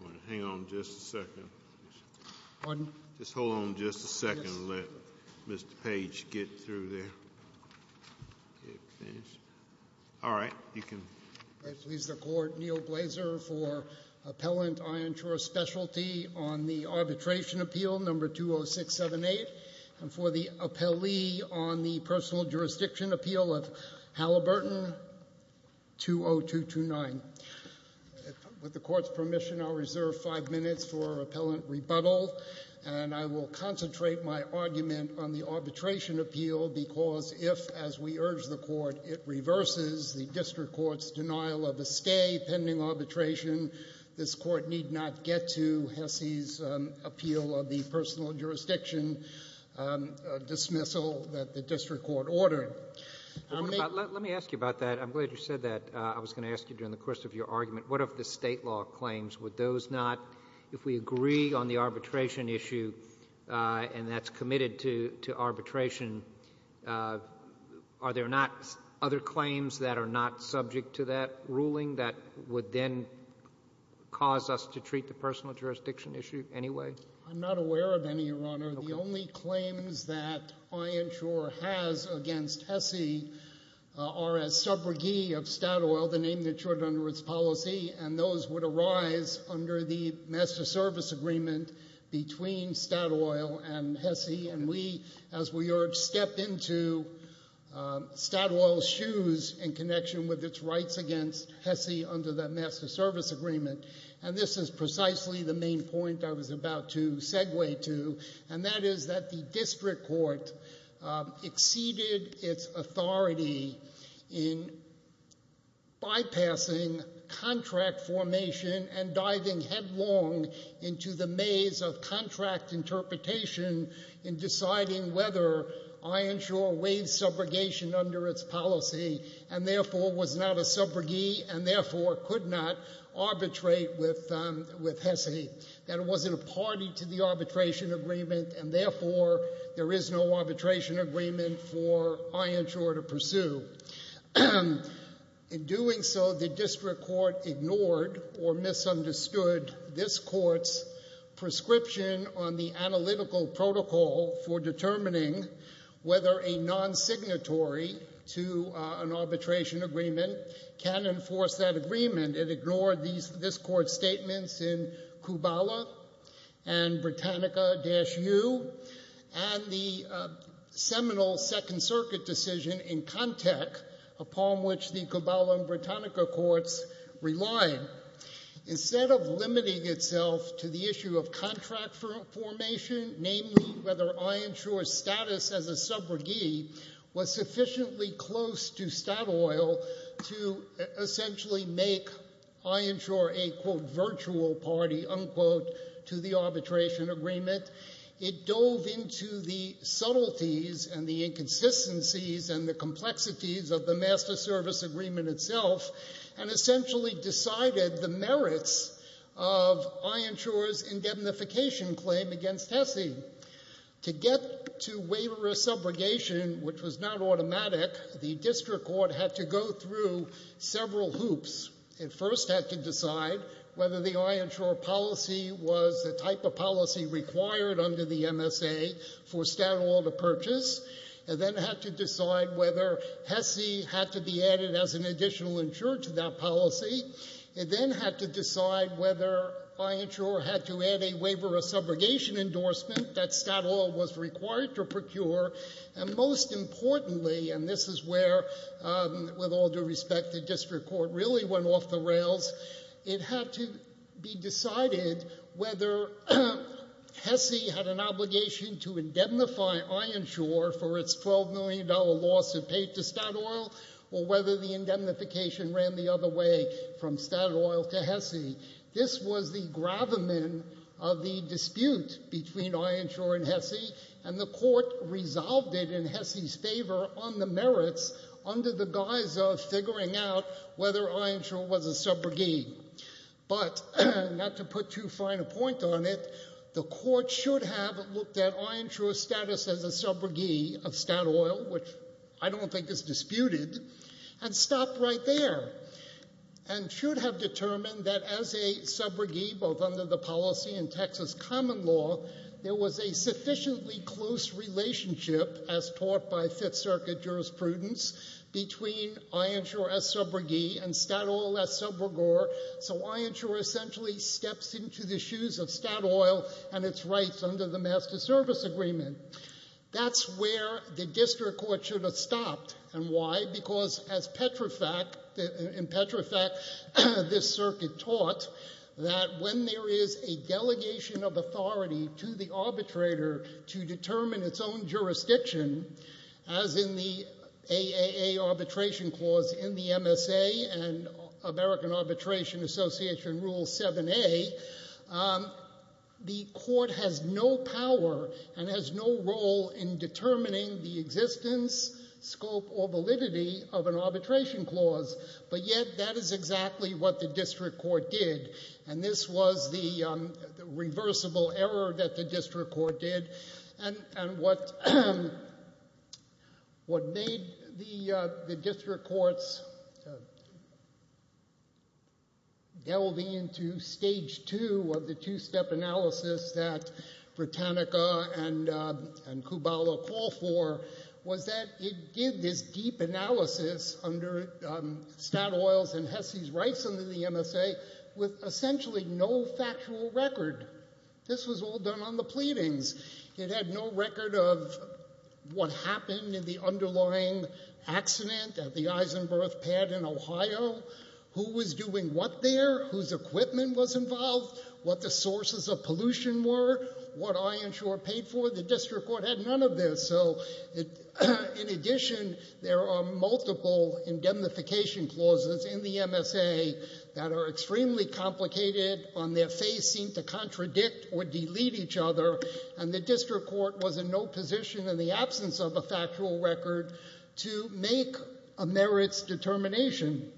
I want to hang on just a second. Pardon? Just hold on just a second and let Mr. Page get through there. All right, you can... I please the Court, Neal Blazer for Appellant Ironshore Spclt on the Arbitration Appeal No. 20678 and for the Appellee on the Personal Jurisdiction Appeal of Halliburton 20229. With the Court's permission, I'll reserve five minutes for Appellant rebuttal and I will concentrate my argument on the Arbitration Appeal because if, as we urge the Court, it reverses the District Court's denial of a stay pending arbitration, this Court need not get to HESI's appeal of the personal jurisdiction dismissal that the District Court ordered. Let me ask you about that. I'm glad you said that. I was going to ask you during the course of your argument, what of the state law claims? Would those not, if we agree on the arbitration issue and that's committed to arbitration, are there not other claims that are not subject to that ruling that would then cause us to treat the personal jurisdiction issue anyway? I'm not aware of any, Your Honor. The only claims that I ensure has against HESI are as subrogee of Statoil, the name that's shorted under its policy, and those would arise under the Master Service Agreement between Statoil and HESI. And we, as we urge, step into Statoil's shoes in connection with its rights against HESI under that Master Service Agreement. And this is precisely the main point I was about to segue to. And that is that the District Court exceeded its authority in bypassing contract formation and diving headlong into the maze of contract interpretation in deciding whether I ensure wage subrogation under its policy and therefore was not a subrogee and therefore could not arbitrate with HESI. That it wasn't a party to the arbitration agreement and therefore there is no arbitration agreement for I ensure to pursue. In doing so, the District Court ignored or misunderstood this Court's prescription on the analytical protocol for determining whether a non-signatory to an arbitration agreement can enforce that agreement. It ignored this Court's statements in Kubala and Britannica-U and the seminal Second Circuit decision in Contek upon which the Kubala and Britannica courts relied. Instead of limiting itself to the issue of contract formation, namely whether I ensure status as a subrogee, was sufficiently close to Statoil to essentially make I ensure a, quote, virtual party, unquote, to the arbitration agreement. It dove into the subtleties and the inconsistencies and the complexities of the master service agreement itself and essentially decided the merits of I ensure's indemnification claim against HESI. To get to waiver of subrogation, which was not automatic, the District Court had to go through several hoops. It first had to decide whether the I ensure policy was the type of policy required under the MSA for Statoil to purchase. It then had to decide whether HESI had to be added as an additional insurer to that policy. It then had to decide whether I ensure had to add a waiver of subrogation endorsement that Statoil was required to procure. And most importantly, and this is where, with all due respect, the District Court really went off the rails, it had to be decided whether HESI had an obligation to indemnify I ensure for its $12 million lawsuit paid to Statoil or whether the indemnification ran the other way from Statoil to HESI. This was the gravamen of the dispute between I ensure and HESI and the Court resolved it in HESI's favor on the merits under the guise of figuring out whether I ensure was a subrogate. But not to put too fine a point on it, the Court should have looked at I ensure's status as a subrogate of Statoil, which I don't think is disputed, and stopped right there and should have determined that as a subrogate, both under the policy and Texas common law, there was a sufficiently close relationship, as taught by Fifth Circuit jurisprudence, between I ensure as subrogate and Statoil as subrogore. So I ensure essentially steps into the shoes of Statoil and its rights under the Master Service Agreement. That's where the District Court should have stopped. And why? Because as Petrofac, in Petrofac, this circuit taught that when there is a delegation of authority to the arbitrator to determine its own jurisdiction, as in the AAA Arbitration Clause in the MSA and American Arbitration Association Rule 7A, the Court has no power and has no role in determining the existence, scope, or validity of an arbitration clause. But yet that is exactly what the District Court did. And this was the reversible error that the District Court did and what made the District Courts delve into stage two of the two-step analysis that Britannica and Kubala call for, was that it did this deep analysis under Statoil's and Hesse's rights under the MSA with essentially no factual record. This was all done on the pleadings. It had no record of what happened in the underlying accident at the Isenberth pad in Ohio, who was doing what there, whose equipment was involved, what the sources of pollution were, what Ironshore paid for. The District Court had none of this. So in addition, there are multiple indemnification clauses in the MSA that are extremely complicated, on their face seem to contradict or delete each other, and the District Court was in no position, in the absence of a factual record, to make a merits determination.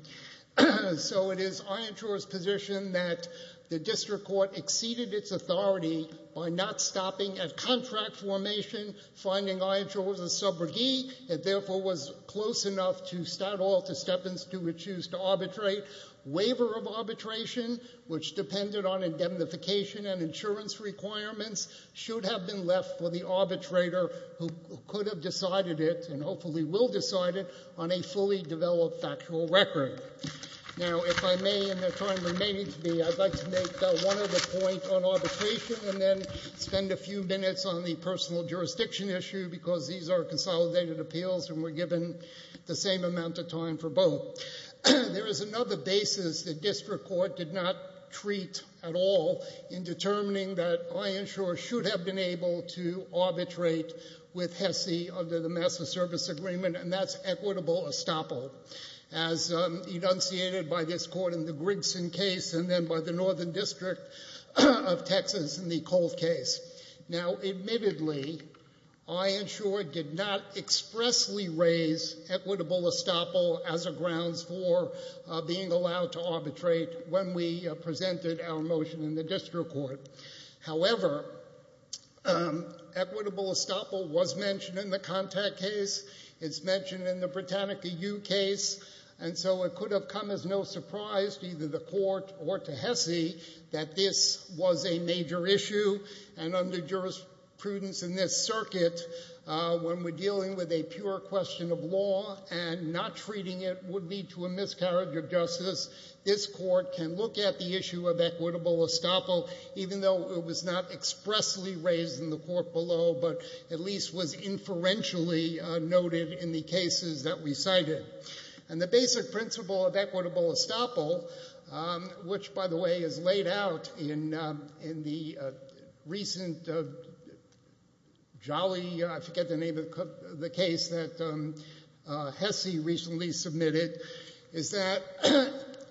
So it is Ironshore's position that the District Court exceeded its authority by not stopping at contract formation, finding Ironshore as a subrogee. It therefore was close enough to Statoil to step in to choose to arbitrate. Waiver of arbitration, which depended on indemnification and insurance requirements, should have been left for the arbitrator who could have decided it, and hopefully will decide it, on a fully developed factual record. Now, if I may, in the time remaining to me, I'd like to make one other point on arbitration and then spend a few minutes on the personal jurisdiction issue, because these are consolidated appeals and we're given the same amount of time for both. There is another basis the District Court did not treat at all in determining that Ironshore should have been able to arbitrate with HESI under the Massa Service Agreement, and that's equitable estoppel, as enunciated by this court in the Grigson case and then by the Northern District of Texas in the Cold case. Now, admittedly, Ironshore did not expressly raise equitable estoppel as a grounds for being allowed to arbitrate when we presented our motion in the District Court. However, equitable estoppel was mentioned in the Contact case, it's mentioned in the Britannica U case, and so it could have come as no surprise to either the court or to HESI that this was a major issue, and under jurisprudence in this circuit, when we're dealing with a pure question of law and not treating it would lead to a miscarriage of justice, this court can look at the issue of equitable estoppel, even though it was not expressly raised in the court below but at least was inferentially noted in the cases that we cited. And the basic principle of equitable estoppel, which, by the way, is laid out in the recent jolly... I forget the name of the case that HESI recently submitted, is that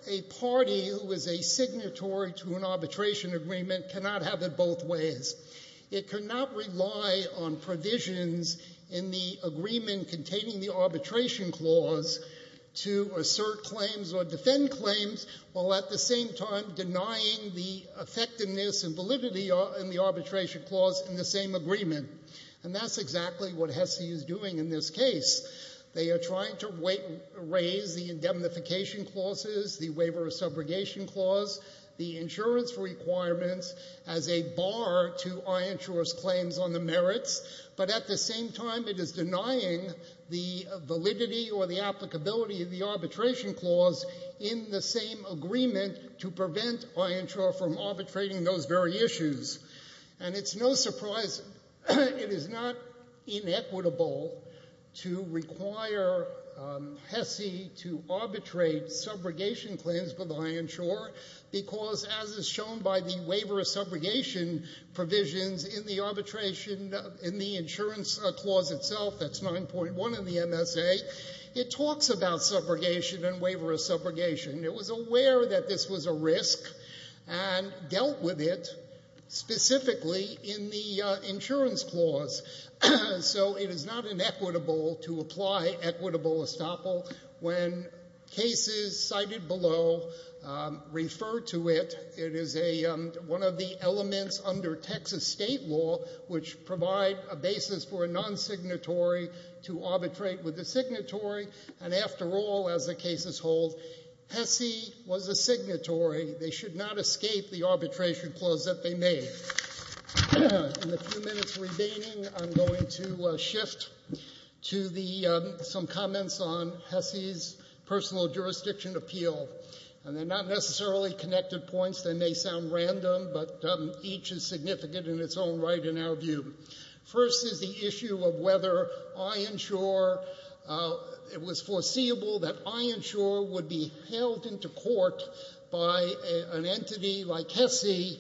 a party who is a signatory to an arbitration agreement cannot have it both ways. It cannot rely on provisions in the agreement containing the arbitration clause to assert claims or defend claims while at the same time denying the effectiveness and validity in the arbitration clause in the same agreement. And that's exactly what HESI is doing in this case. They are trying to raise the indemnification clauses, the waiver of subrogation clause, the insurance requirements as a bar to iNsure's claims on the merits, but at the same time it is denying the validity or the applicability of the arbitration clause in the same agreement to prevent iNsure from arbitrating those very issues. And it's no surprise... It is not inequitable to require HESI to arbitrate subrogation claims for the iNsure because, as is shown by the waiver of subrogation provisions in the arbitration... in the insurance clause itself, that's 9.1 in the MSA, it talks about subrogation and waiver of subrogation. It was aware that this was a risk and dealt with it specifically in the insurance clause. So it is not inequitable to apply equitable estoppel when cases cited below refer to it. It is one of the elements under Texas state law which provide a basis for a non-signatory to arbitrate with a signatory. And after all, as the cases hold, HESI was a signatory. They should not escape the arbitration clause that they made. In the few minutes remaining, I'm going to shift to some comments on HESI's personal jurisdiction appeal. And they're not necessarily connected points. They may sound random, but each is significant in its own right in our view. First is the issue of whether iNsure... It was foreseeable that iNsure would be held into court by an entity like HESI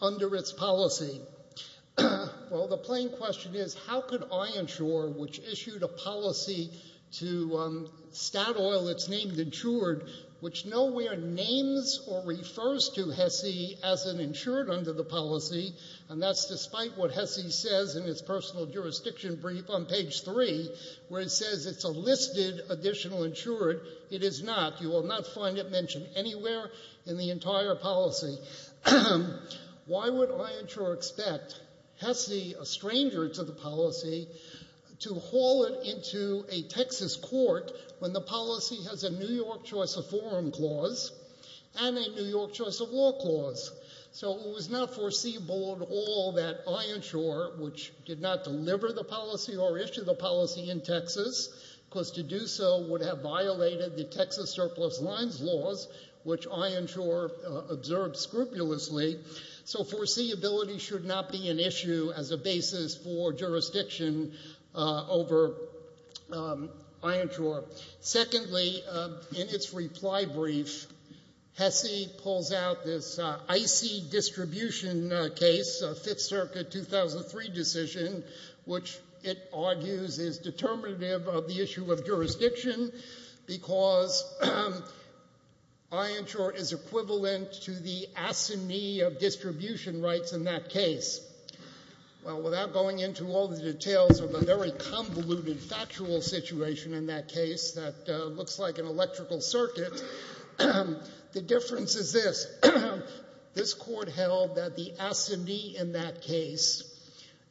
under its policy. Well, the plain question is, how could iNsure, which issued a policy to Statoil that's named insured, which nowhere names or refers to HESI as an insured under the policy, and that's despite what HESI says in its personal jurisdiction brief on page 3, where it says it's a listed additional insured. It is not. You will not find it mentioned anywhere in the entire policy. Why would iNsure expect HESI, a stranger to the policy, to haul it into a Texas court when the policy has a New York choice of forum clause and a New York choice of law clause? So it was not foreseeable at all that iNsure, which did not deliver the policy or issue the policy in Texas, because to do so would have violated the Texas surplus lines laws, which iNsure observed scrupulously. So foreseeability should not be an issue as a basis for jurisdiction over iNsure. Secondly, in its reply brief, HESI pulls out this icy distribution case, a Fifth Circuit 2003 decision, which it argues is determinative of the issue of jurisdiction because iNsure is equivalent to the asinine of distribution rights in that case. Well, without going into all the details of the very convoluted factual situation in that case that looks like an electrical circuit, the difference is this. This court held that the asinine in that case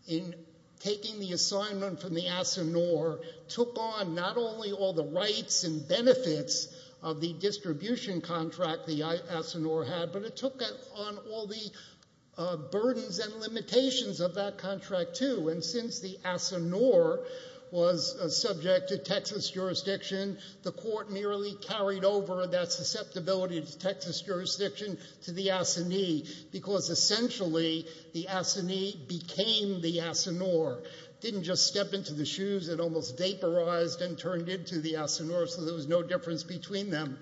in taking the assignment from the asinore took on not only all the rights and benefits of the distribution contract the asinore had, but it took on all the burdens and limitations of that contract, too. And since the asinore was subject to Texas jurisdiction, the court merely carried over that susceptibility to Texas jurisdiction to the asinine because essentially the asinine became the asinore. It didn't just step into the shoes. It almost vaporized and turned into the asinore so there was no difference between them.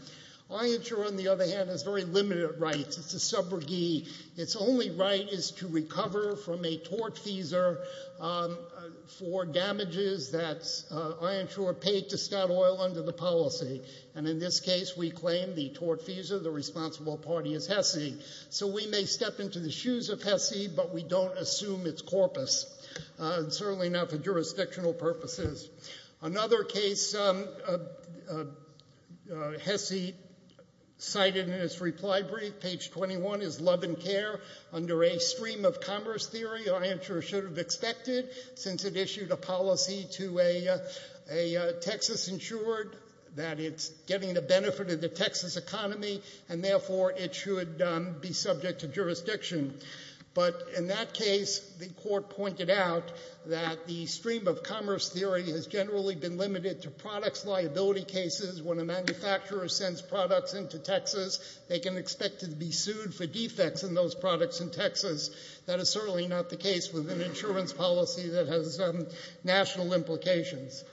iNsure, on the other hand, has very limited rights. It's a subrogee. Its only right is to recover from a tort feeser for damages that iNsure paid to Statoil under the policy. And in this case, we claim the tort feeser, the responsible party, is HESI. So we may step into the shoes of HESI, but we don't assume its corpus, certainly not for jurisdictional purposes. Another case HESI cited in its reply brief, page 21, is Love and Care under a stream-of-commerce theory iNsure should have expected since it issued a policy to a Texas insured that it's getting the benefit of the Texas economy and therefore it should be subject to jurisdiction. But in that case, the Court pointed out that the stream-of-commerce theory has generally been limited to products liability cases. When a manufacturer sends products into Texas, they can expect to be sued for defects in those products in Texas. That is certainly not the case with an insurance policy that has national implications.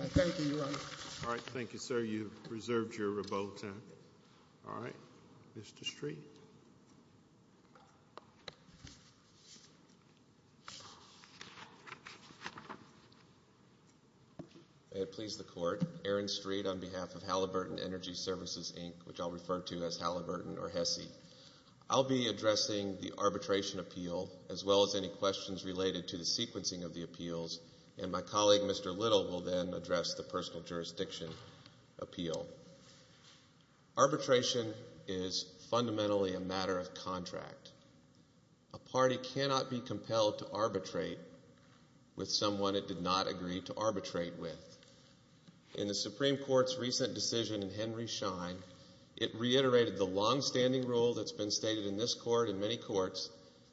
I thank you, Your Honor. All right, thank you, sir. You've reserved your rebuttal time. All right, Mr. Street. May it please the Court, Aaron Street, on behalf of Halliburton Energy Services, Inc., which I'll refer to as Halliburton or HESI. I'll be addressing the arbitration appeal as well as any questions related to the sequencing of the appeals, and my colleague, Mr. Little, will then address the personal jurisdiction appeal. Arbitration is fundamentally a matter of contract. A party cannot be compelled to arbitrate with someone it did not agree to arbitrate with. In the Supreme Court's recent decision in Henry Schein, it reiterated the longstanding rule that's been stated in this Court and many courts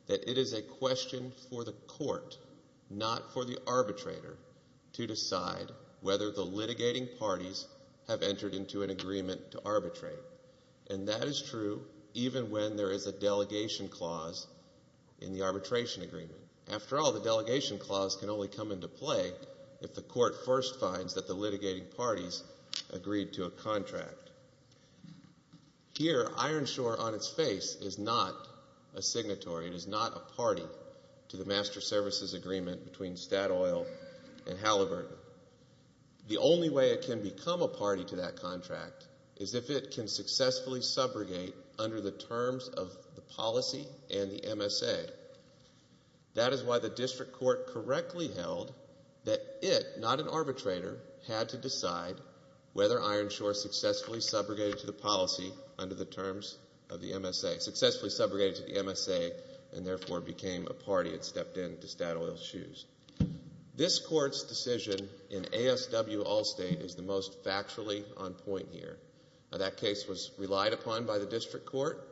that it is a question for the Court, not for the arbitrator, to decide whether the litigating parties have entered into an agreement to arbitrate. And that is true even when there is a delegation clause in the arbitration agreement. After all, the delegation clause can only come into play if the Court first finds that the litigating parties agreed to a contract. Here, Ironshore on its face is not a signatory, it is not a party to the master services agreement between Statoil and Halliburton. The only way it can become a party to that contract is if it can successfully subrogate under the terms of the policy and the MSA. That is why the District Court correctly held that it, not an arbitrator, had to decide whether Ironshore successfully subrogated to the policy under the terms of the MSA, had successfully subrogated to the MSA, and therefore became a party and stepped into Statoil's shoes. This Court's decision in ASW Allstate is the most factually on point here. That case was relied upon by the District Court,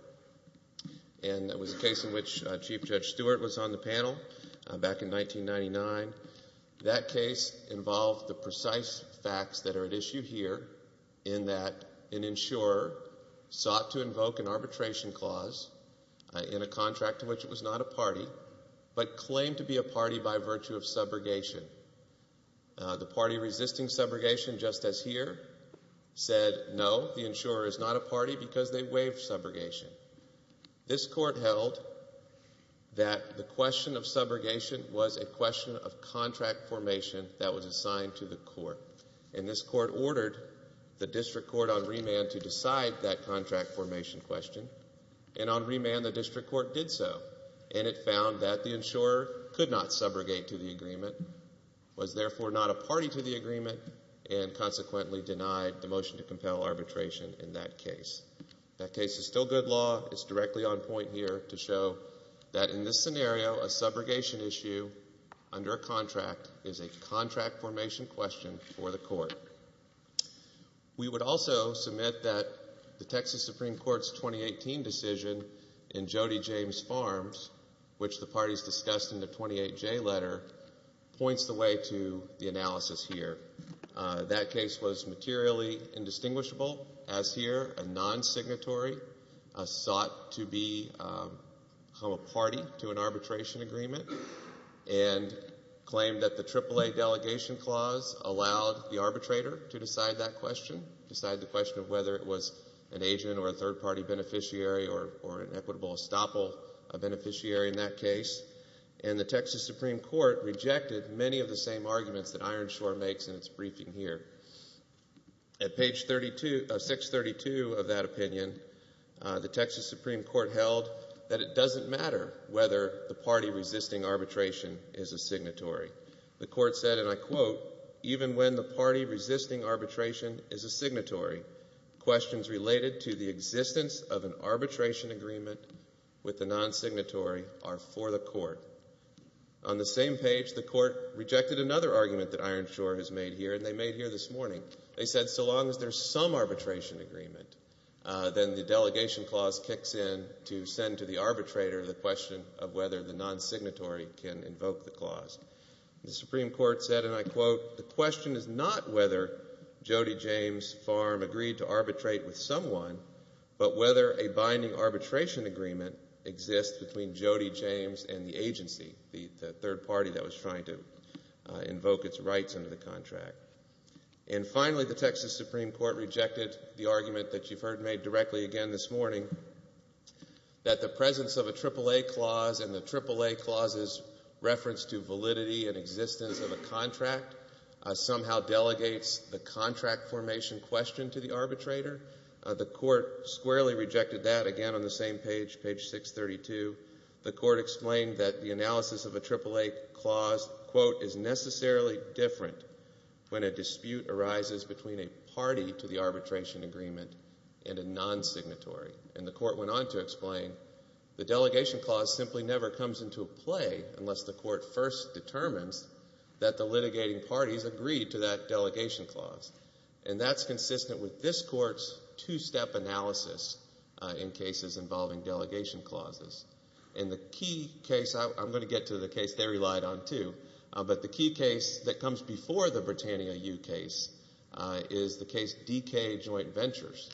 and it was a case in which Chief Judge Stewart was on the panel back in 1999. That case involved the precise facts that are at issue here in that an insurer sought to invoke an arbitration clause in a contract in which it was not a party, but claimed to be a party by virtue of subrogation. The party resisting subrogation, just as here, said no, the insurer is not a party because they waived subrogation. This Court held that the question of subrogation was a question of contract formation that was assigned to the Court. And this Court ordered the District Court on remand to decide that contract formation question. And on remand, the District Court did so, and it found that the insurer could not subrogate to the agreement, was therefore not a party to the agreement, and consequently denied the motion to compel arbitration in that case. That case is still good law. It's directly on point here to show that in this scenario, a subrogation issue under a contract is a contract formation question for the Court. We would also submit that the Texas Supreme Court's 2018 decision in Jody James Farms, which the parties discussed in the 28J letter, points the way to the analysis here. That case was materially indistinguishable, as here, a non-signatory, sought to be a party to an arbitration agreement, and claimed that the AAA Delegation Clause allowed the arbitrator to decide that question, decide the question of whether it was an agent or a third-party beneficiary or an equitable estoppel beneficiary in that case. And the Texas Supreme Court rejected many of the same arguments that Ironshore makes in its briefing here. At page 632 of that opinion, the Texas Supreme Court held that it doesn't matter whether the party resisting arbitration is a signatory. The Court said, and I quote, even when the party resisting arbitration is a signatory, questions related to the existence of an arbitration agreement with a non-signatory are for the Court. On the same page, the Court rejected another argument that Ironshore has made here, and they made here this morning. They said so long as there's some arbitration agreement, then the Delegation Clause kicks in to send to the arbitrator the question of whether the non-signatory can invoke the clause. The Supreme Court said, and I quote, the question is not whether Jody James Farm agreed to arbitrate with someone, but whether a binding arbitration agreement exists between Jody James and the agency, the third party that was trying to invoke its rights under the contract. And finally, the Texas Supreme Court rejected the argument that you've heard made directly again this morning that the presence of a AAA clause and the AAA clause's reference to validity and existence of a contract somehow delegates the contract formation question to the arbitrator. The Court squarely rejected that, again on the same page, page 632. The Court explained that the analysis of a AAA clause, quote, is necessarily different when a dispute arises between a party to the arbitration agreement and a non-signatory. And the Court went on to explain the Delegation Clause simply never comes into play unless the Court first determines that the litigating parties agreed to that Delegation Clause. And that's consistent with this Court's two-step analysis in cases involving Delegation Clauses. And the key case, I'm going to get to the case they relied on too, but the key case that comes before the Britannia U case is the case DK Joint Ventures.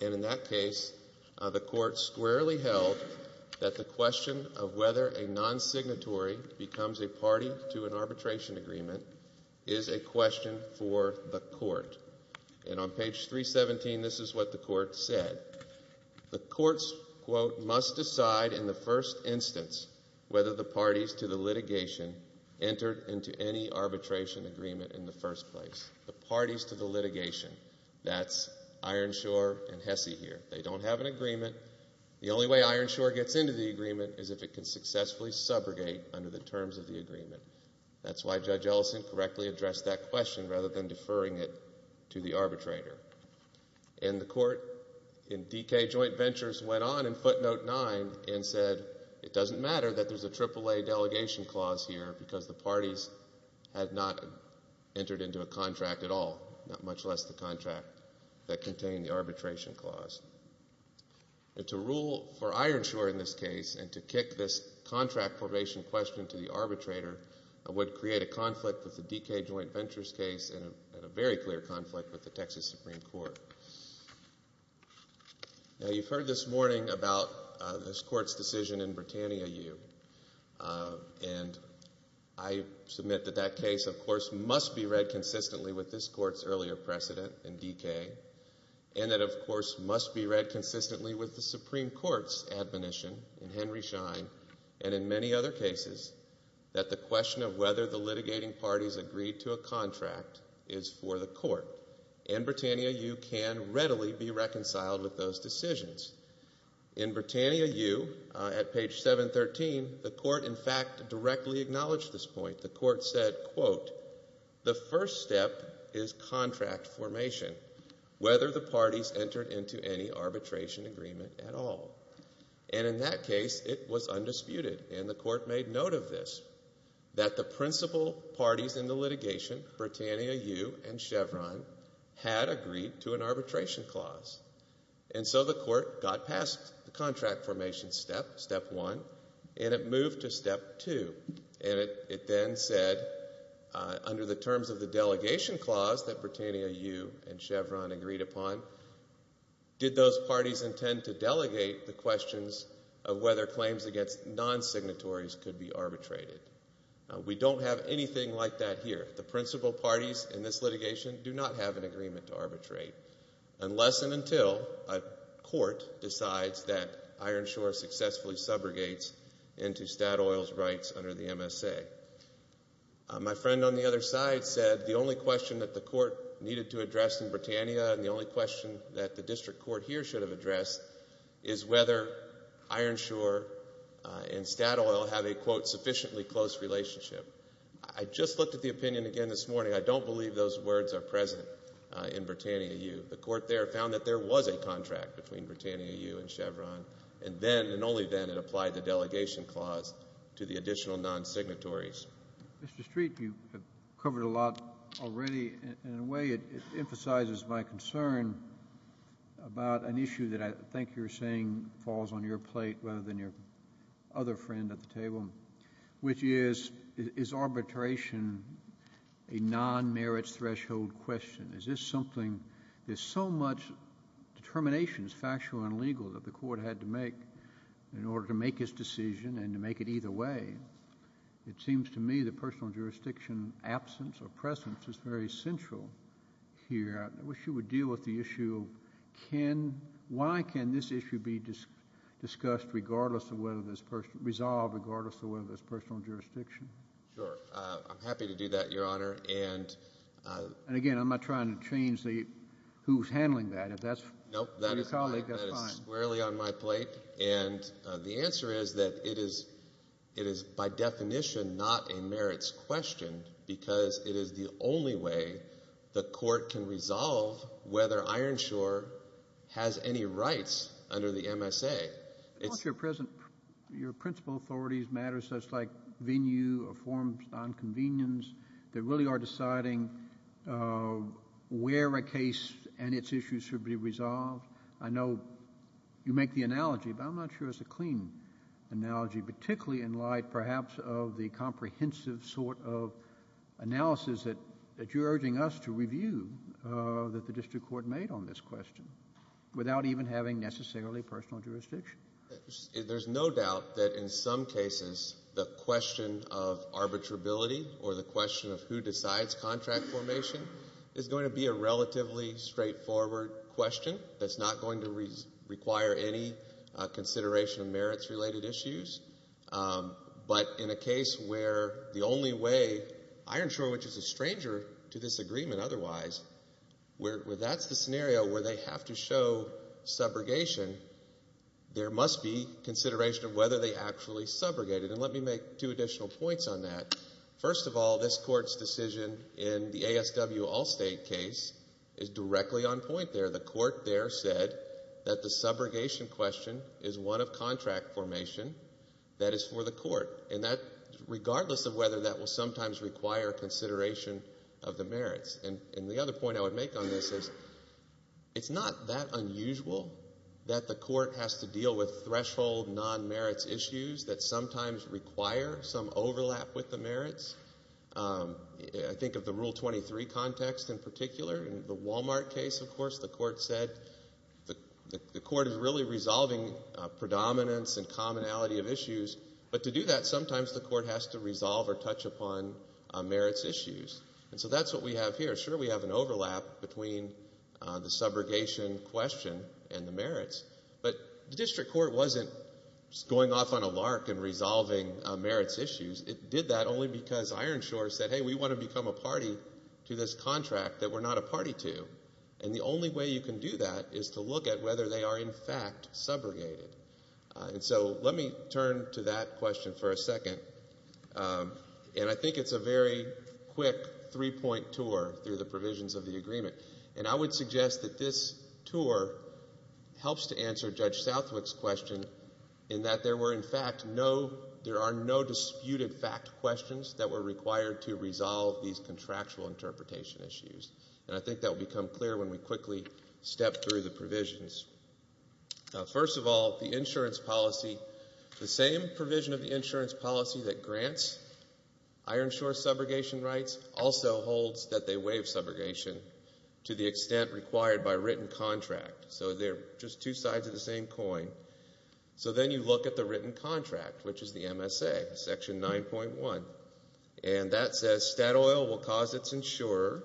And in that case, the Court squarely held that the question of whether a non-signatory becomes a party to an arbitration agreement is a question for the Court. And on page 317, this is what the Court said. The Courts, quote, must decide in the first instance whether the parties to the litigation entered into any arbitration agreement in the first place. The parties to the litigation. That's Ironshore and Hesse here. They don't have an agreement. The only way Ironshore gets into the agreement is if it can successfully subrogate under the terms of the agreement. That's why Judge Ellison correctly addressed that question rather than deferring it to the arbitrator. And the Court in DK Joint Ventures went on in footnote 9 and said, it doesn't matter that there's a AAA Delegation Clause here because the parties had not entered into a contract at all, much less the contract that contained the Arbitration Clause. To rule for Ironshore in this case and to kick this contract probation question to the arbitrator would create a conflict with the DK Joint Ventures case and a very clear conflict with the Texas Supreme Court. Now, you've heard this morning about this Court's decision in Britannia U. And I submit that that case, of course, must be read consistently with this Court's earlier precedent in DK and that, of course, must be read consistently with the Supreme Court's admonition in Henry Schein and in many other cases that the question of whether the litigating parties agreed to a contract is for the Court. In Britannia U can readily be reconciled with those decisions. In Britannia U, at page 713, the Court, in fact, directly acknowledged this point. The Court said, quote, the first step is contract formation, whether the parties entered into any arbitration agreement at all. And in that case, it was undisputed. And the Court made note of this, that the principal parties in the litigation, Britannia U and Chevron, had agreed to an Arbitration Clause. And so the Court got past the contract formation step, step 1, and it moved to step 2. And it then said, under the terms of the Delegation Clause that Britannia U and Chevron agreed upon, did those parties intend to delegate the questions of whether claims against non-signatories could be arbitrated? We don't have anything like that here. The principal parties in this litigation do not have an agreement to arbitrate unless and until a court decides that Ironshore successfully subrogates into Statoil's rights under the MSA. My friend on the other side said the only question that the Court needed to address in Britannia and the only question that the District Court here should have addressed is whether Ironshore and Statoil have a, quote, sufficiently close relationship. I just looked at the opinion again this morning. I don't believe those words are present in Britannia U. The Court there found that there was a contract between Britannia U and Chevron. And then, and only then, it applied the Delegation Clause to the additional non-signatories. Mr. Street, you have covered a lot already. In a way, it emphasizes my concern about an issue that I think you're saying falls on your plate rather than your other friend at the table, which is, is arbitration a non-merits threshold question? Is this something, there's so much determination, factual and legal, that the Court had to make in order to make its decision and to make it either way. It seems to me that personal jurisdiction absence or presence is very central here. I wish you would deal with the issue of why can this issue be discussed regardless of whether it's resolved, regardless of whether there's personal jurisdiction. Sure. I'm happy to do that, Your Honor. And again, I'm not trying to change who's handling that. If that's your colleague, that's fine. That is squarely on my plate. And the answer is that it is, by definition, not a merits question because it is the only way the Court can resolve whether Ironshore has any rights under the MSA. Of course your principal authorities matter, so it's like venue or forms of nonconvenience that really are deciding where a case and its issues should be resolved. I know you make the analogy, but I'm not sure it's a clean analogy, particularly in light, perhaps, of the comprehensive sort of analysis that you're urging us to review that the district court made on this question without even having necessarily personal jurisdiction. There's no doubt that in some cases the question of arbitrability or the question of who decides contract formation is going to be a relatively straightforward question that's not going to require any consideration of merits-related issues. But in a case where the only way Ironshore, which is a stranger to this agreement otherwise, where that's the scenario where they have to show subrogation, there must be consideration of whether they actually subrogated. And let me make two additional points on that. First of all, this Court's decision in the ASW Allstate case is directly on point there. The Court there said that the subrogation question is one of contract formation that is for the Court. And regardless of whether that will sometimes require consideration of the merits. And the other point I would make on this is it's not that unusual that the Court has to deal with threshold non-merits issues that sometimes require some overlap with the merits. I think of the Rule 23 context in particular. In the Walmart case, of course, the Court said the Court is really resolving predominance and commonality of issues. But to do that, sometimes the Court has to resolve or touch upon merits issues. And so that's what we have here. Sure, we have an overlap between the subrogation question and the merits. But the District Court wasn't going off on a lark and resolving merits issues. It did that only because Ironshore said, hey, we want to become a party to this contract that we're not a party to. And the only way you can do that is to look at whether they are in fact subrogated. And so let me turn to that question for a second. And I think it's a very quick three-point tour through the provisions of the agreement. And I would suggest that this tour helps to answer Judge Southwick's question in that there were in fact no, there are no disputed fact questions that were required to resolve these contractual interpretation issues. And I think that will become clear when we quickly step through the provisions. First of all, the insurance policy, the same provision of the insurance policy that grants Ironshore subrogation rights also holds that they waive subrogation to the extent required by written contract. So they're just two sides of the same coin. So then you look at the written contract, which is the MSA, Section 9.1. And that says Statoil will cause its insurer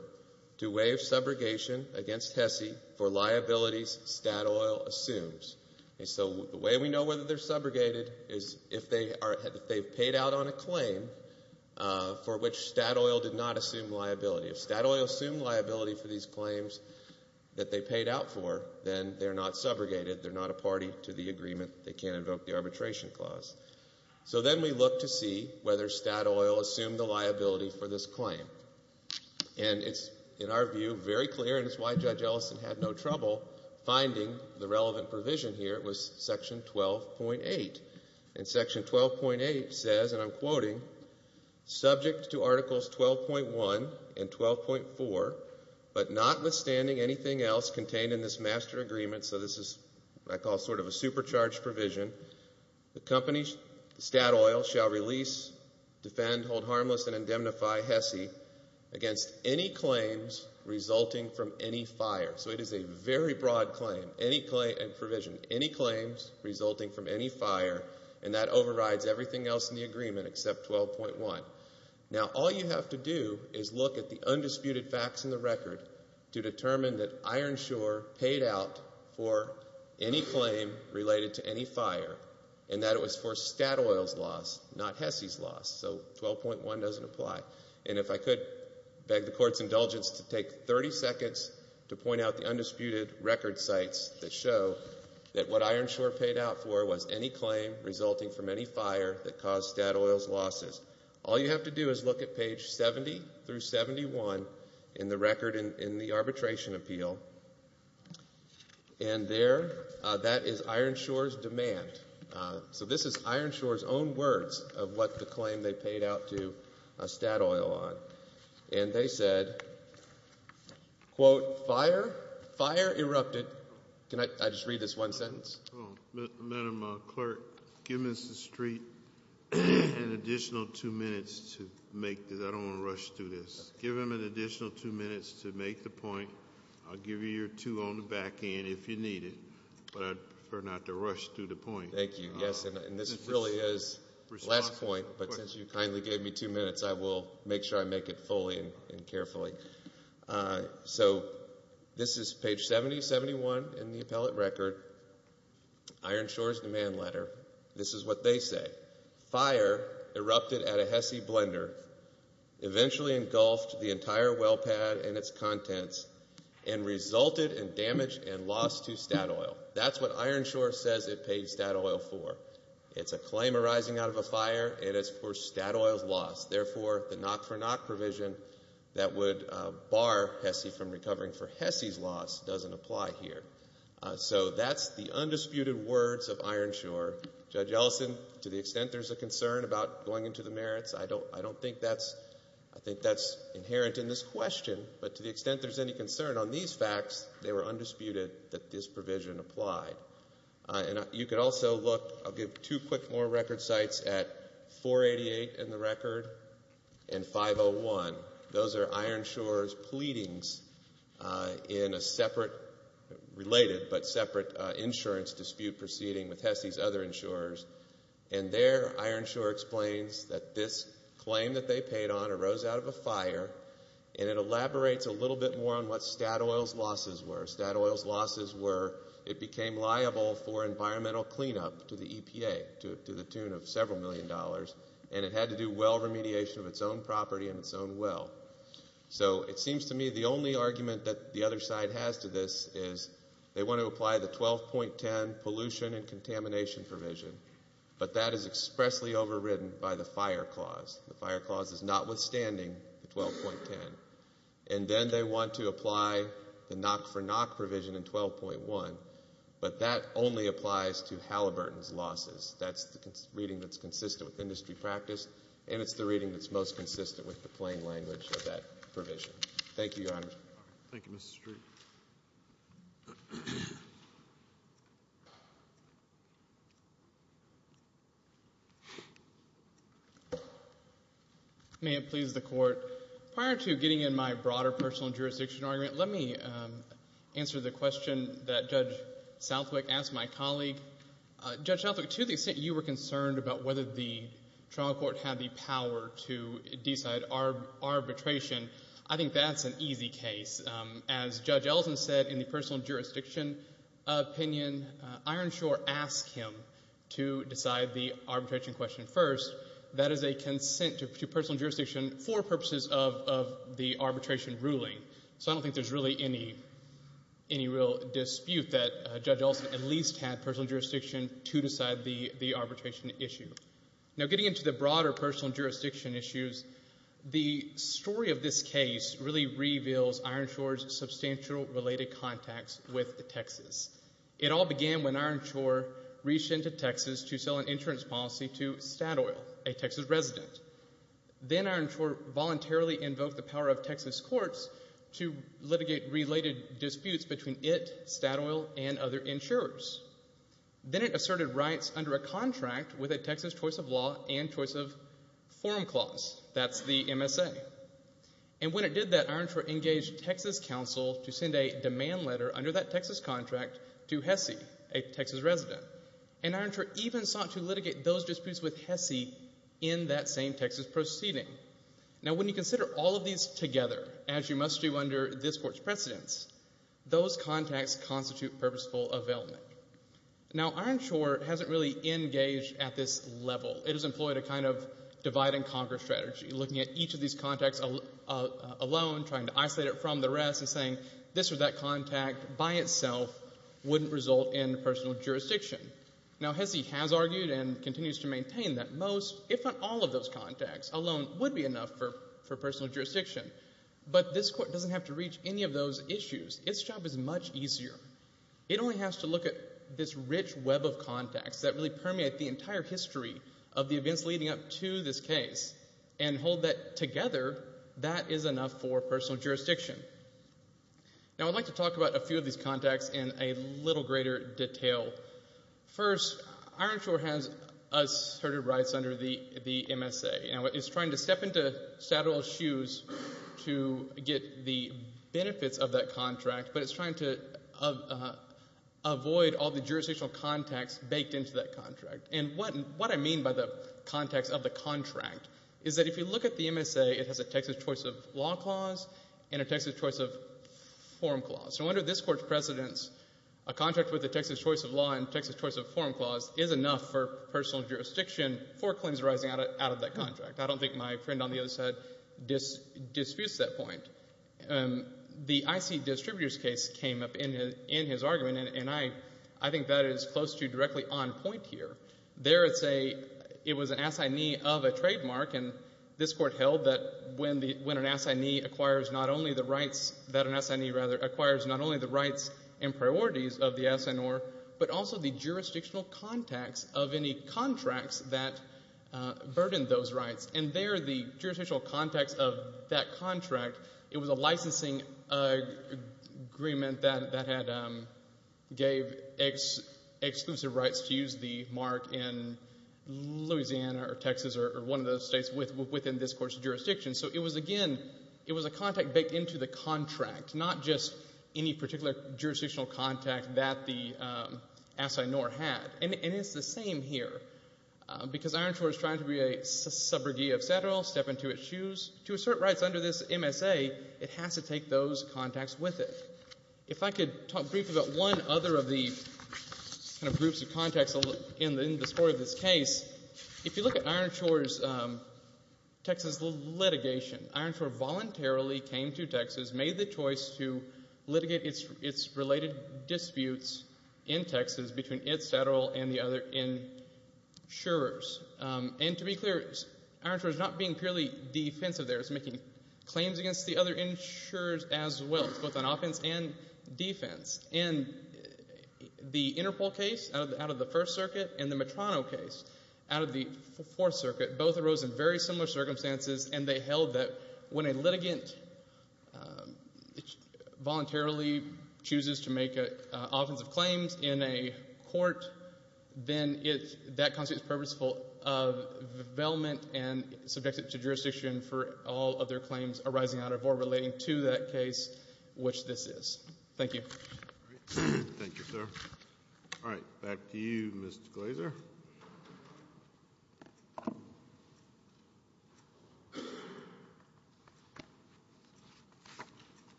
to waive subrogation against HESI for liabilities Statoil assumes. And so the way we know whether they're subrogated is if they've paid out on a claim for which Statoil did not assume liability. If Statoil assumed liability for these claims that they paid out for, then they're not subrogated. They're not a party to the agreement. They can't invoke the arbitration clause. So then we look to see whether Statoil assumed the liability for this claim. And it's, in our view, very clear, and it's why Judge Ellison had no trouble finding the relevant provision here. It was Section 12.8. And Section 12.8 says, and I'm quoting, subject to Articles 12.1 and 12.4, but notwithstanding anything else contained in this master agreement, so this is what I call sort of a supercharged provision, the company, Statoil shall release, defend, hold harmless, and indemnify HESI against any claims resulting from any fire. So it is a very broad claim and provision. Any claims resulting from any fire, and that overrides everything else in the agreement except 12.1. Now, all you have to do is look at the undisputed facts in the record to determine that Ironshore paid out for any claim related to any fire, and that it was for Statoil's loss, not HESI's loss. So 12.1 doesn't apply. And if I could beg the Court's indulgence to take 30 seconds to point out the undisputed record sites that show that what Ironshore paid out for was any claim resulting from any fire that caused Statoil's losses. All you have to do is look at page 70 through 71 in the record in the arbitration appeal. And there, that is Ironshore's demand. So this is Ironshore's own words of what the claim they paid out to Statoil on. And they said, quote, fire, fire erupted. Can I just read this one sentence? Madam Clerk, give Mr. Street an additional two minutes to make this. I don't want to rush through this. Give him an additional two minutes to make the point. I'll give you your two on the back end if you need it. But I'd prefer not to rush through the point. Thank you. Yes, and this really is last point. But since you kindly gave me two minutes, I will make sure I make it fully and carefully. So this is page 70, 71 in the appellate record. Ironshore's demand letter. This is what they say. Fire erupted at a HESI blender. Eventually engulfed the entire well pad and its contents and resulted in damage and loss to Statoil. That's what Ironshore says it paid Statoil for. It's a claim arising out of a fire and it's for Statoil's loss. Therefore, the knock for knock provision that would bar HESI from recovering for HESI's loss doesn't apply here. So that's the undisputed words of Ironshore. Judge Ellison, to the extent there's a concern about going into the merits, I don't think that's, I think that's inherent in this question. But to the extent there's any concern on these facts, they were undisputed that this provision applied. You could also look, I'll give two quick more record sites at 488 in the record and 501. Those are Ironshore's pleadings in a separate related but separate insurance dispute proceeding with HESI's other insurers and there Ironshore explains that this claim that they paid on arose out of a fire and it elaborates a little bit more on what Statoil's losses were. Statoil's losses were it became liable for environmental cleanup to the EPA to the tune of several million dollars and it had to do well remediation of its own property and its own well. So it seems to me the only argument that the other side has to this is they want to apply the 12.10 pollution and contamination provision but that is expressly overridden by the fire clause. The fire clause is notwithstanding the 12.10 and then they want to apply the knock for knock provision in 12.1 but that only applies to Halliburton's losses. That's the reading that's consistent with industry practice and it's the reading that's most consistent with the plain language of that provision. Thank you, Your Honor. May it please the Court. Prior to getting in my broader personal jurisdiction argument, let me answer the question that Judge Southwick asked my colleague. Judge Southwick, to the extent you were concerned about whether the trial court had the power to decide arbitration, I think that's an easy case. As Judge Elson said in the personal jurisdiction opinion, Ironshore asked him to decide the arbitration question first. That is a consent to personal jurisdiction for purposes of the arbitration ruling. So I don't think there's really any real dispute that Judge Elson at least had personal jurisdiction to decide the arbitration issue. Now getting into the broader personal jurisdiction issues, the story of this case really reveals Ironshore's substantial related contacts with Texas. It all began when Ironshore reached into Texas to sell an insurance policy to Statoil, a Texas resident. Then Ironshore voluntarily invoked the power of Texas courts to litigate related disputes between it, Statoil, and other insurers. Then it asserted rights under a contract with a Texas choice of law and choice of forum clause, that's the MSA. And when it did that, Ironshore engaged Texas counsel to send a demand letter under that Texas contract to Hesse, a Texas resident. And Ironshore even sought to litigate those disputes with Hesse in that same Texas proceeding. Now when you consider all of these together, as you must do under this court's precedence, those contacts constitute purposeful availment. Now Ironshore hasn't really engaged at this level. It has employed a kind of divide and conquer strategy, looking at each of these contacts alone, trying to isolate it from the rest and saying this or that contact by itself wouldn't result in personal jurisdiction. Now Hesse has argued and continues to maintain that most, if not all of those contacts alone would be enough for personal jurisdiction. But this court doesn't have to reach any of those issues. Its job is much easier. It only has to look at this rich web of contacts that really permeate the entire history of the events leading up to this case and hold that together, that is enough for personal jurisdiction. Now I'd like to talk about a few of these contacts in a little greater detail. First, Ironshore has asserted rights under the MSA. Now it's trying to step into Saddle's shoes to get the benefits of that contract, but it's trying to avoid all the jurisdictional contacts baked into that contract. And what I mean by the context of the contract is that if you look at the MSA, it has a Texas choice of law clause and a Texas choice of form clause. So under this court's precedence, a contract with the Texas choice of law and Texas choice of form clause is enough for personal jurisdiction for claims arising out of that contract. I don't think my friend on the other side disputes that point. The IC distributors case came up in his argument and I think that is close to directly on point here. There it was an assignee of a trademark and this court held that when an assignee acquires not only the rights and priorities of the contract, but also the jurisdictional contacts of any contracts that burdened those rights. And there the jurisdictional contacts of that contract, it was a licensing agreement that gave exclusive rights to use the mark in Louisiana or Texas or one of those states within this court's jurisdiction. So it was again, it was a contact baked into the contract, not just any particular jurisdictional contact that the assigneur had. And it's the same here because Ironshore is trying to be a subrogate of Satterall, step into its shoes. To assert rights under this MSA, it has to take those contacts with it. If I could talk briefly about one other of the groups of contacts in the sport of this case, if you look at Ironshore's Texas litigation, Ironshore voluntarily came to Texas, made the choice to litigate its related disputes in Texas between Ed Satterall and the other insurers. And to be clear, Ironshore's not being purely defensive there. It's making claims against the other insurers as well, both on offense and defense. And the Interpol case out of the First Circuit and the Metrano case out of the Fourth Circuit, both arose in very similar circumstances and they voluntarily chooses to make offensive claims in a court, then that constitutes purposeful availment and subject it to jurisdiction for all other claims arising out of or relating to that case, which this is. Thank you. Thank you, sir. All right. Back to you, Mr. Glazer.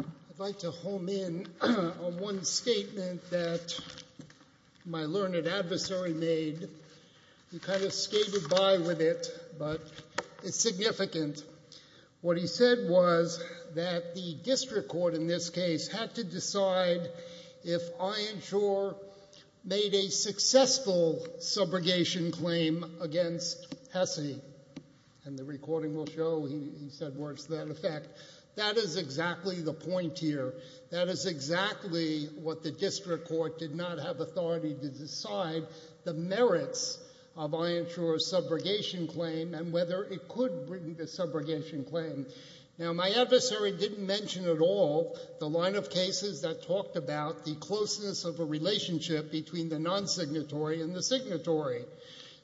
I'd like to home in on one statement that my learned adversary made. He kind of skated by with it, but it's significant. What he said was that the district court in this case had to decide if Ironshore made a successful subrogation claim against the HESI. And the recording will show he said words to that effect. That is exactly the point here. That is exactly what the district court did not have authority to decide the merits of Ironshore's subrogation claim and whether it could bring the subrogation claim. Now, my adversary didn't mention at all the line of cases that talked about the closeness of a relationship between the non-signatory and the signatory.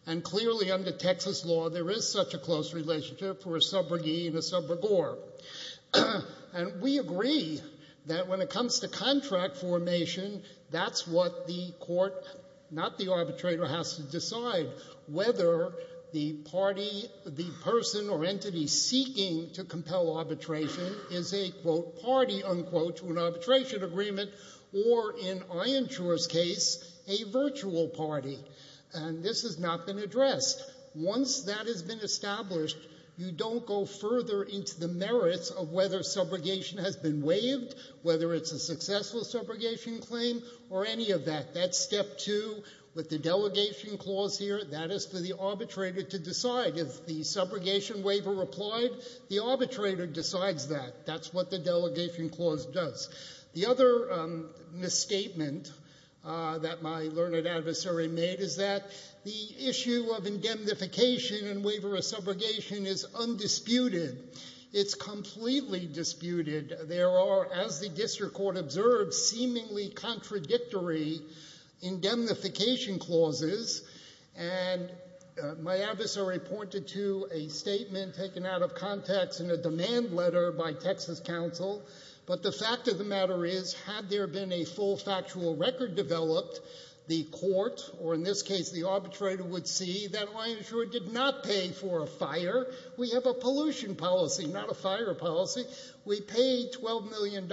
And clearly under Texas law, there is such a close relationship for a subrogee and a subrogor. And we agree that when it comes to contract formation, that's what the court, not the arbitrator, has to decide, whether the party, the person or entity seeking to compel arbitration is a, quote, party, unquote, to an arbitration agreement or, in Ironshore's case, a virtual party. And this has not been addressed. Once that has been established, you don't go further into the merits of whether subrogation has been waived, whether it's a successful subrogation claim or any of that. That's step two with the delegation clause here. That is for the arbitrator to decide. If the subrogation waiver applied, the arbitrator decides that. That's what the delegation clause does. The other misstatement that my learned adversary made is that the issue of indemnification and waiver of subrogation is undisputed. It's completely disputed. There are, as the district court observed, seemingly contradictory indemnification clauses. And my adversary pointed to a statement taken out of context in a demand letter by Texas counsel. But the fact of the matter is, had there been a full factual record developed, the court, or in this case the arbitrator, would see that Ironshore did not pay for a fire. We have a pollution policy, not a fire policy. We paid $12 million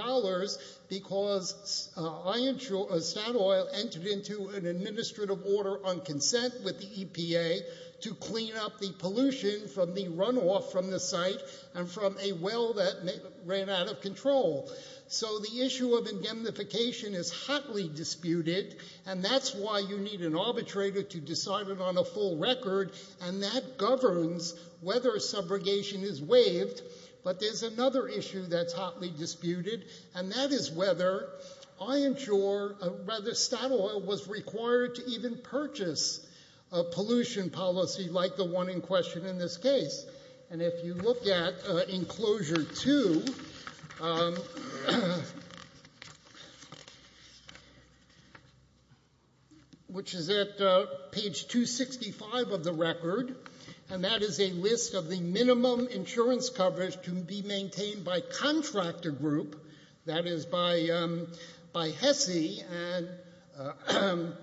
because Statoil entered into an administrative order on consent with the EPA to clean up the pollution from the runoff from the site and from a well that ran out of control. So the issue of indemnification is hotly disputed, and that's why you need an arbitrator to decide it on a full record, and that governs whether subrogation is waived. But there's another issue that's hotly disputed, and that is whether Ironshore, or rather Statoil, was required to even purchase a pollution policy like the one in question in this case. And if you look at enclosure 2, which is at page 265 of the record, and that is a list of the minimum insurance coverage to be maintained by contractor group, that is by HESI. And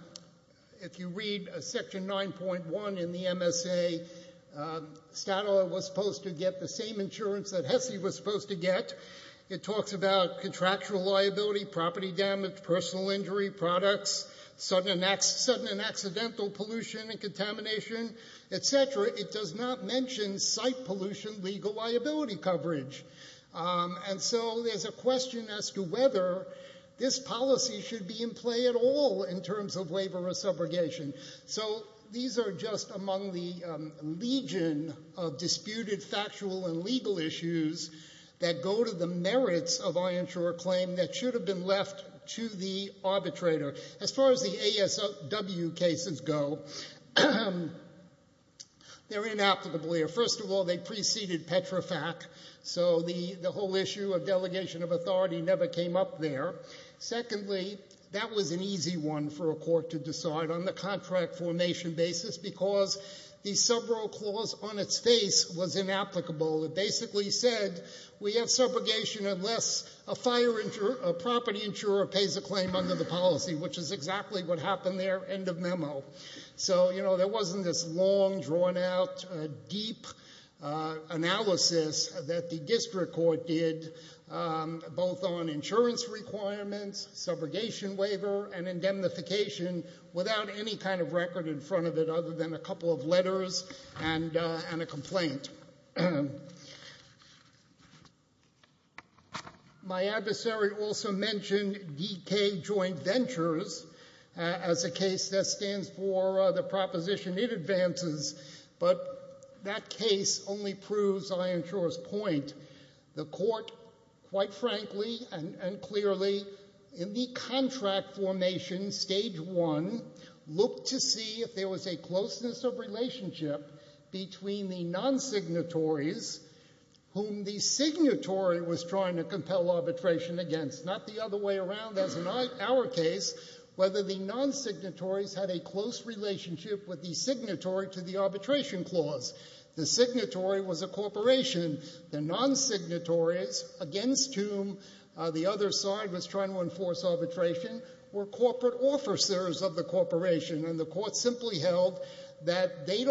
if you read section 9.1 in the MSA, Statoil was supposed to get the same insurance that HESI was supposed to get. It talks about contractual liability, property damage, personal injury products, sudden and accidental pollution and contamination, etc. It does not mention site pollution legal liability coverage. And so there's a question as to whether this policy should be in play at all in terms of waiver or subrogation. So these are just among the legion of disputed factual and legal issues that go to the merits of Ironshore claim that should have been left to the arbitrator. As far as the ASW cases go, they're inapplicable here. First of all, they preceded Petrofac, so the whole issue of delegation of authority never came up there. Secondly, that was an easy one for a court to decide on the contract formation basis because the subro clause on its face was inapplicable. It basically said we have subrogation unless a property insurer pays a claim under the policy, which is exactly what happened there, end of memo. So there wasn't this long, drawn out, deep analysis that the district court did, both on insurance requirements, subrogation waiver, and indemnification without any kind of record in front of it other than a couple of letters and a complaint. My adversary also mentioned DK Joint Ventures as a case that stands for the proposition it advances, but that case only proves Ironshore's point. The court, quite frankly and clearly, in the contract formation stage one, looked to see if there was a closeness of relationship between the non-signatories whom the signatory was trying to compel arbitration against. Not the other way around, as in our case, whether the non-signatories had a close relationship with the signatory to the arbitration clause. The signatory was a corporation. The non-signatories against whom the other side was trying to enforce arbitration were corporate officers of the corporation, and the court simply held that they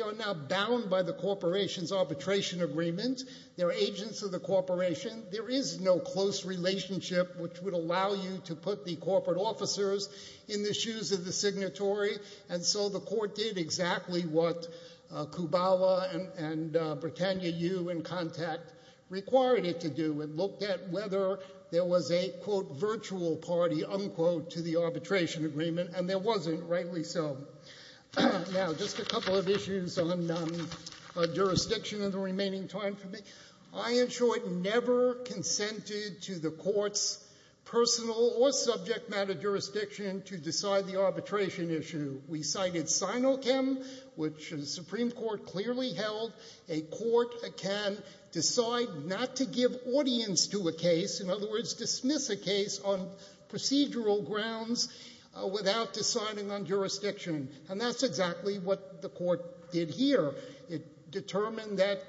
are now bound by the corporation's arbitration agreement. They're agents of the corporation. There is no close relationship which would allow you to put the corporate officers in the shoes of the signatory, and so the court did exactly what Kubala and Britannia U in contact required it to do. It looked at whether there was a, quote, virtual party, unquote, to the arbitration agreement, and there wasn't, rightly so. Now, just a couple of issues on jurisdiction in the remaining time for me. I, in short, never consented to the court's personal or subject matter jurisdiction to decide the arbitration issue. We cited SINOCHEM, which the Supreme Court clearly held a court can decide not to give audience to a case, in other words, dismiss a case on procedural grounds without deciding on jurisdiction, and that's exactly what the court did here. It determined that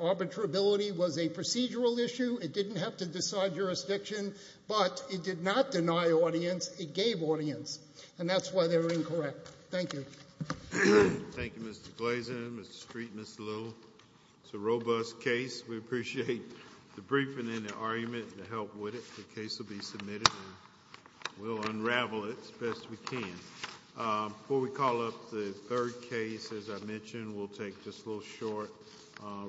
arbitrability was a procedural issue. It didn't have to decide jurisdiction, but it did not deny audience. It gave audience, and that's why they're incorrect. Thank you. Thank you, Mr. Glazen, Mr. Street, Ms. Little. It's a robust case. We appreciate the briefing and the argument and the help with it. The case will be submitted and we'll unravel it as best we can. Before we call up the third case, as I said, just a little short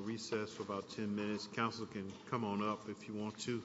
recess for about 10 minutes. Counsel can come on up if you want to.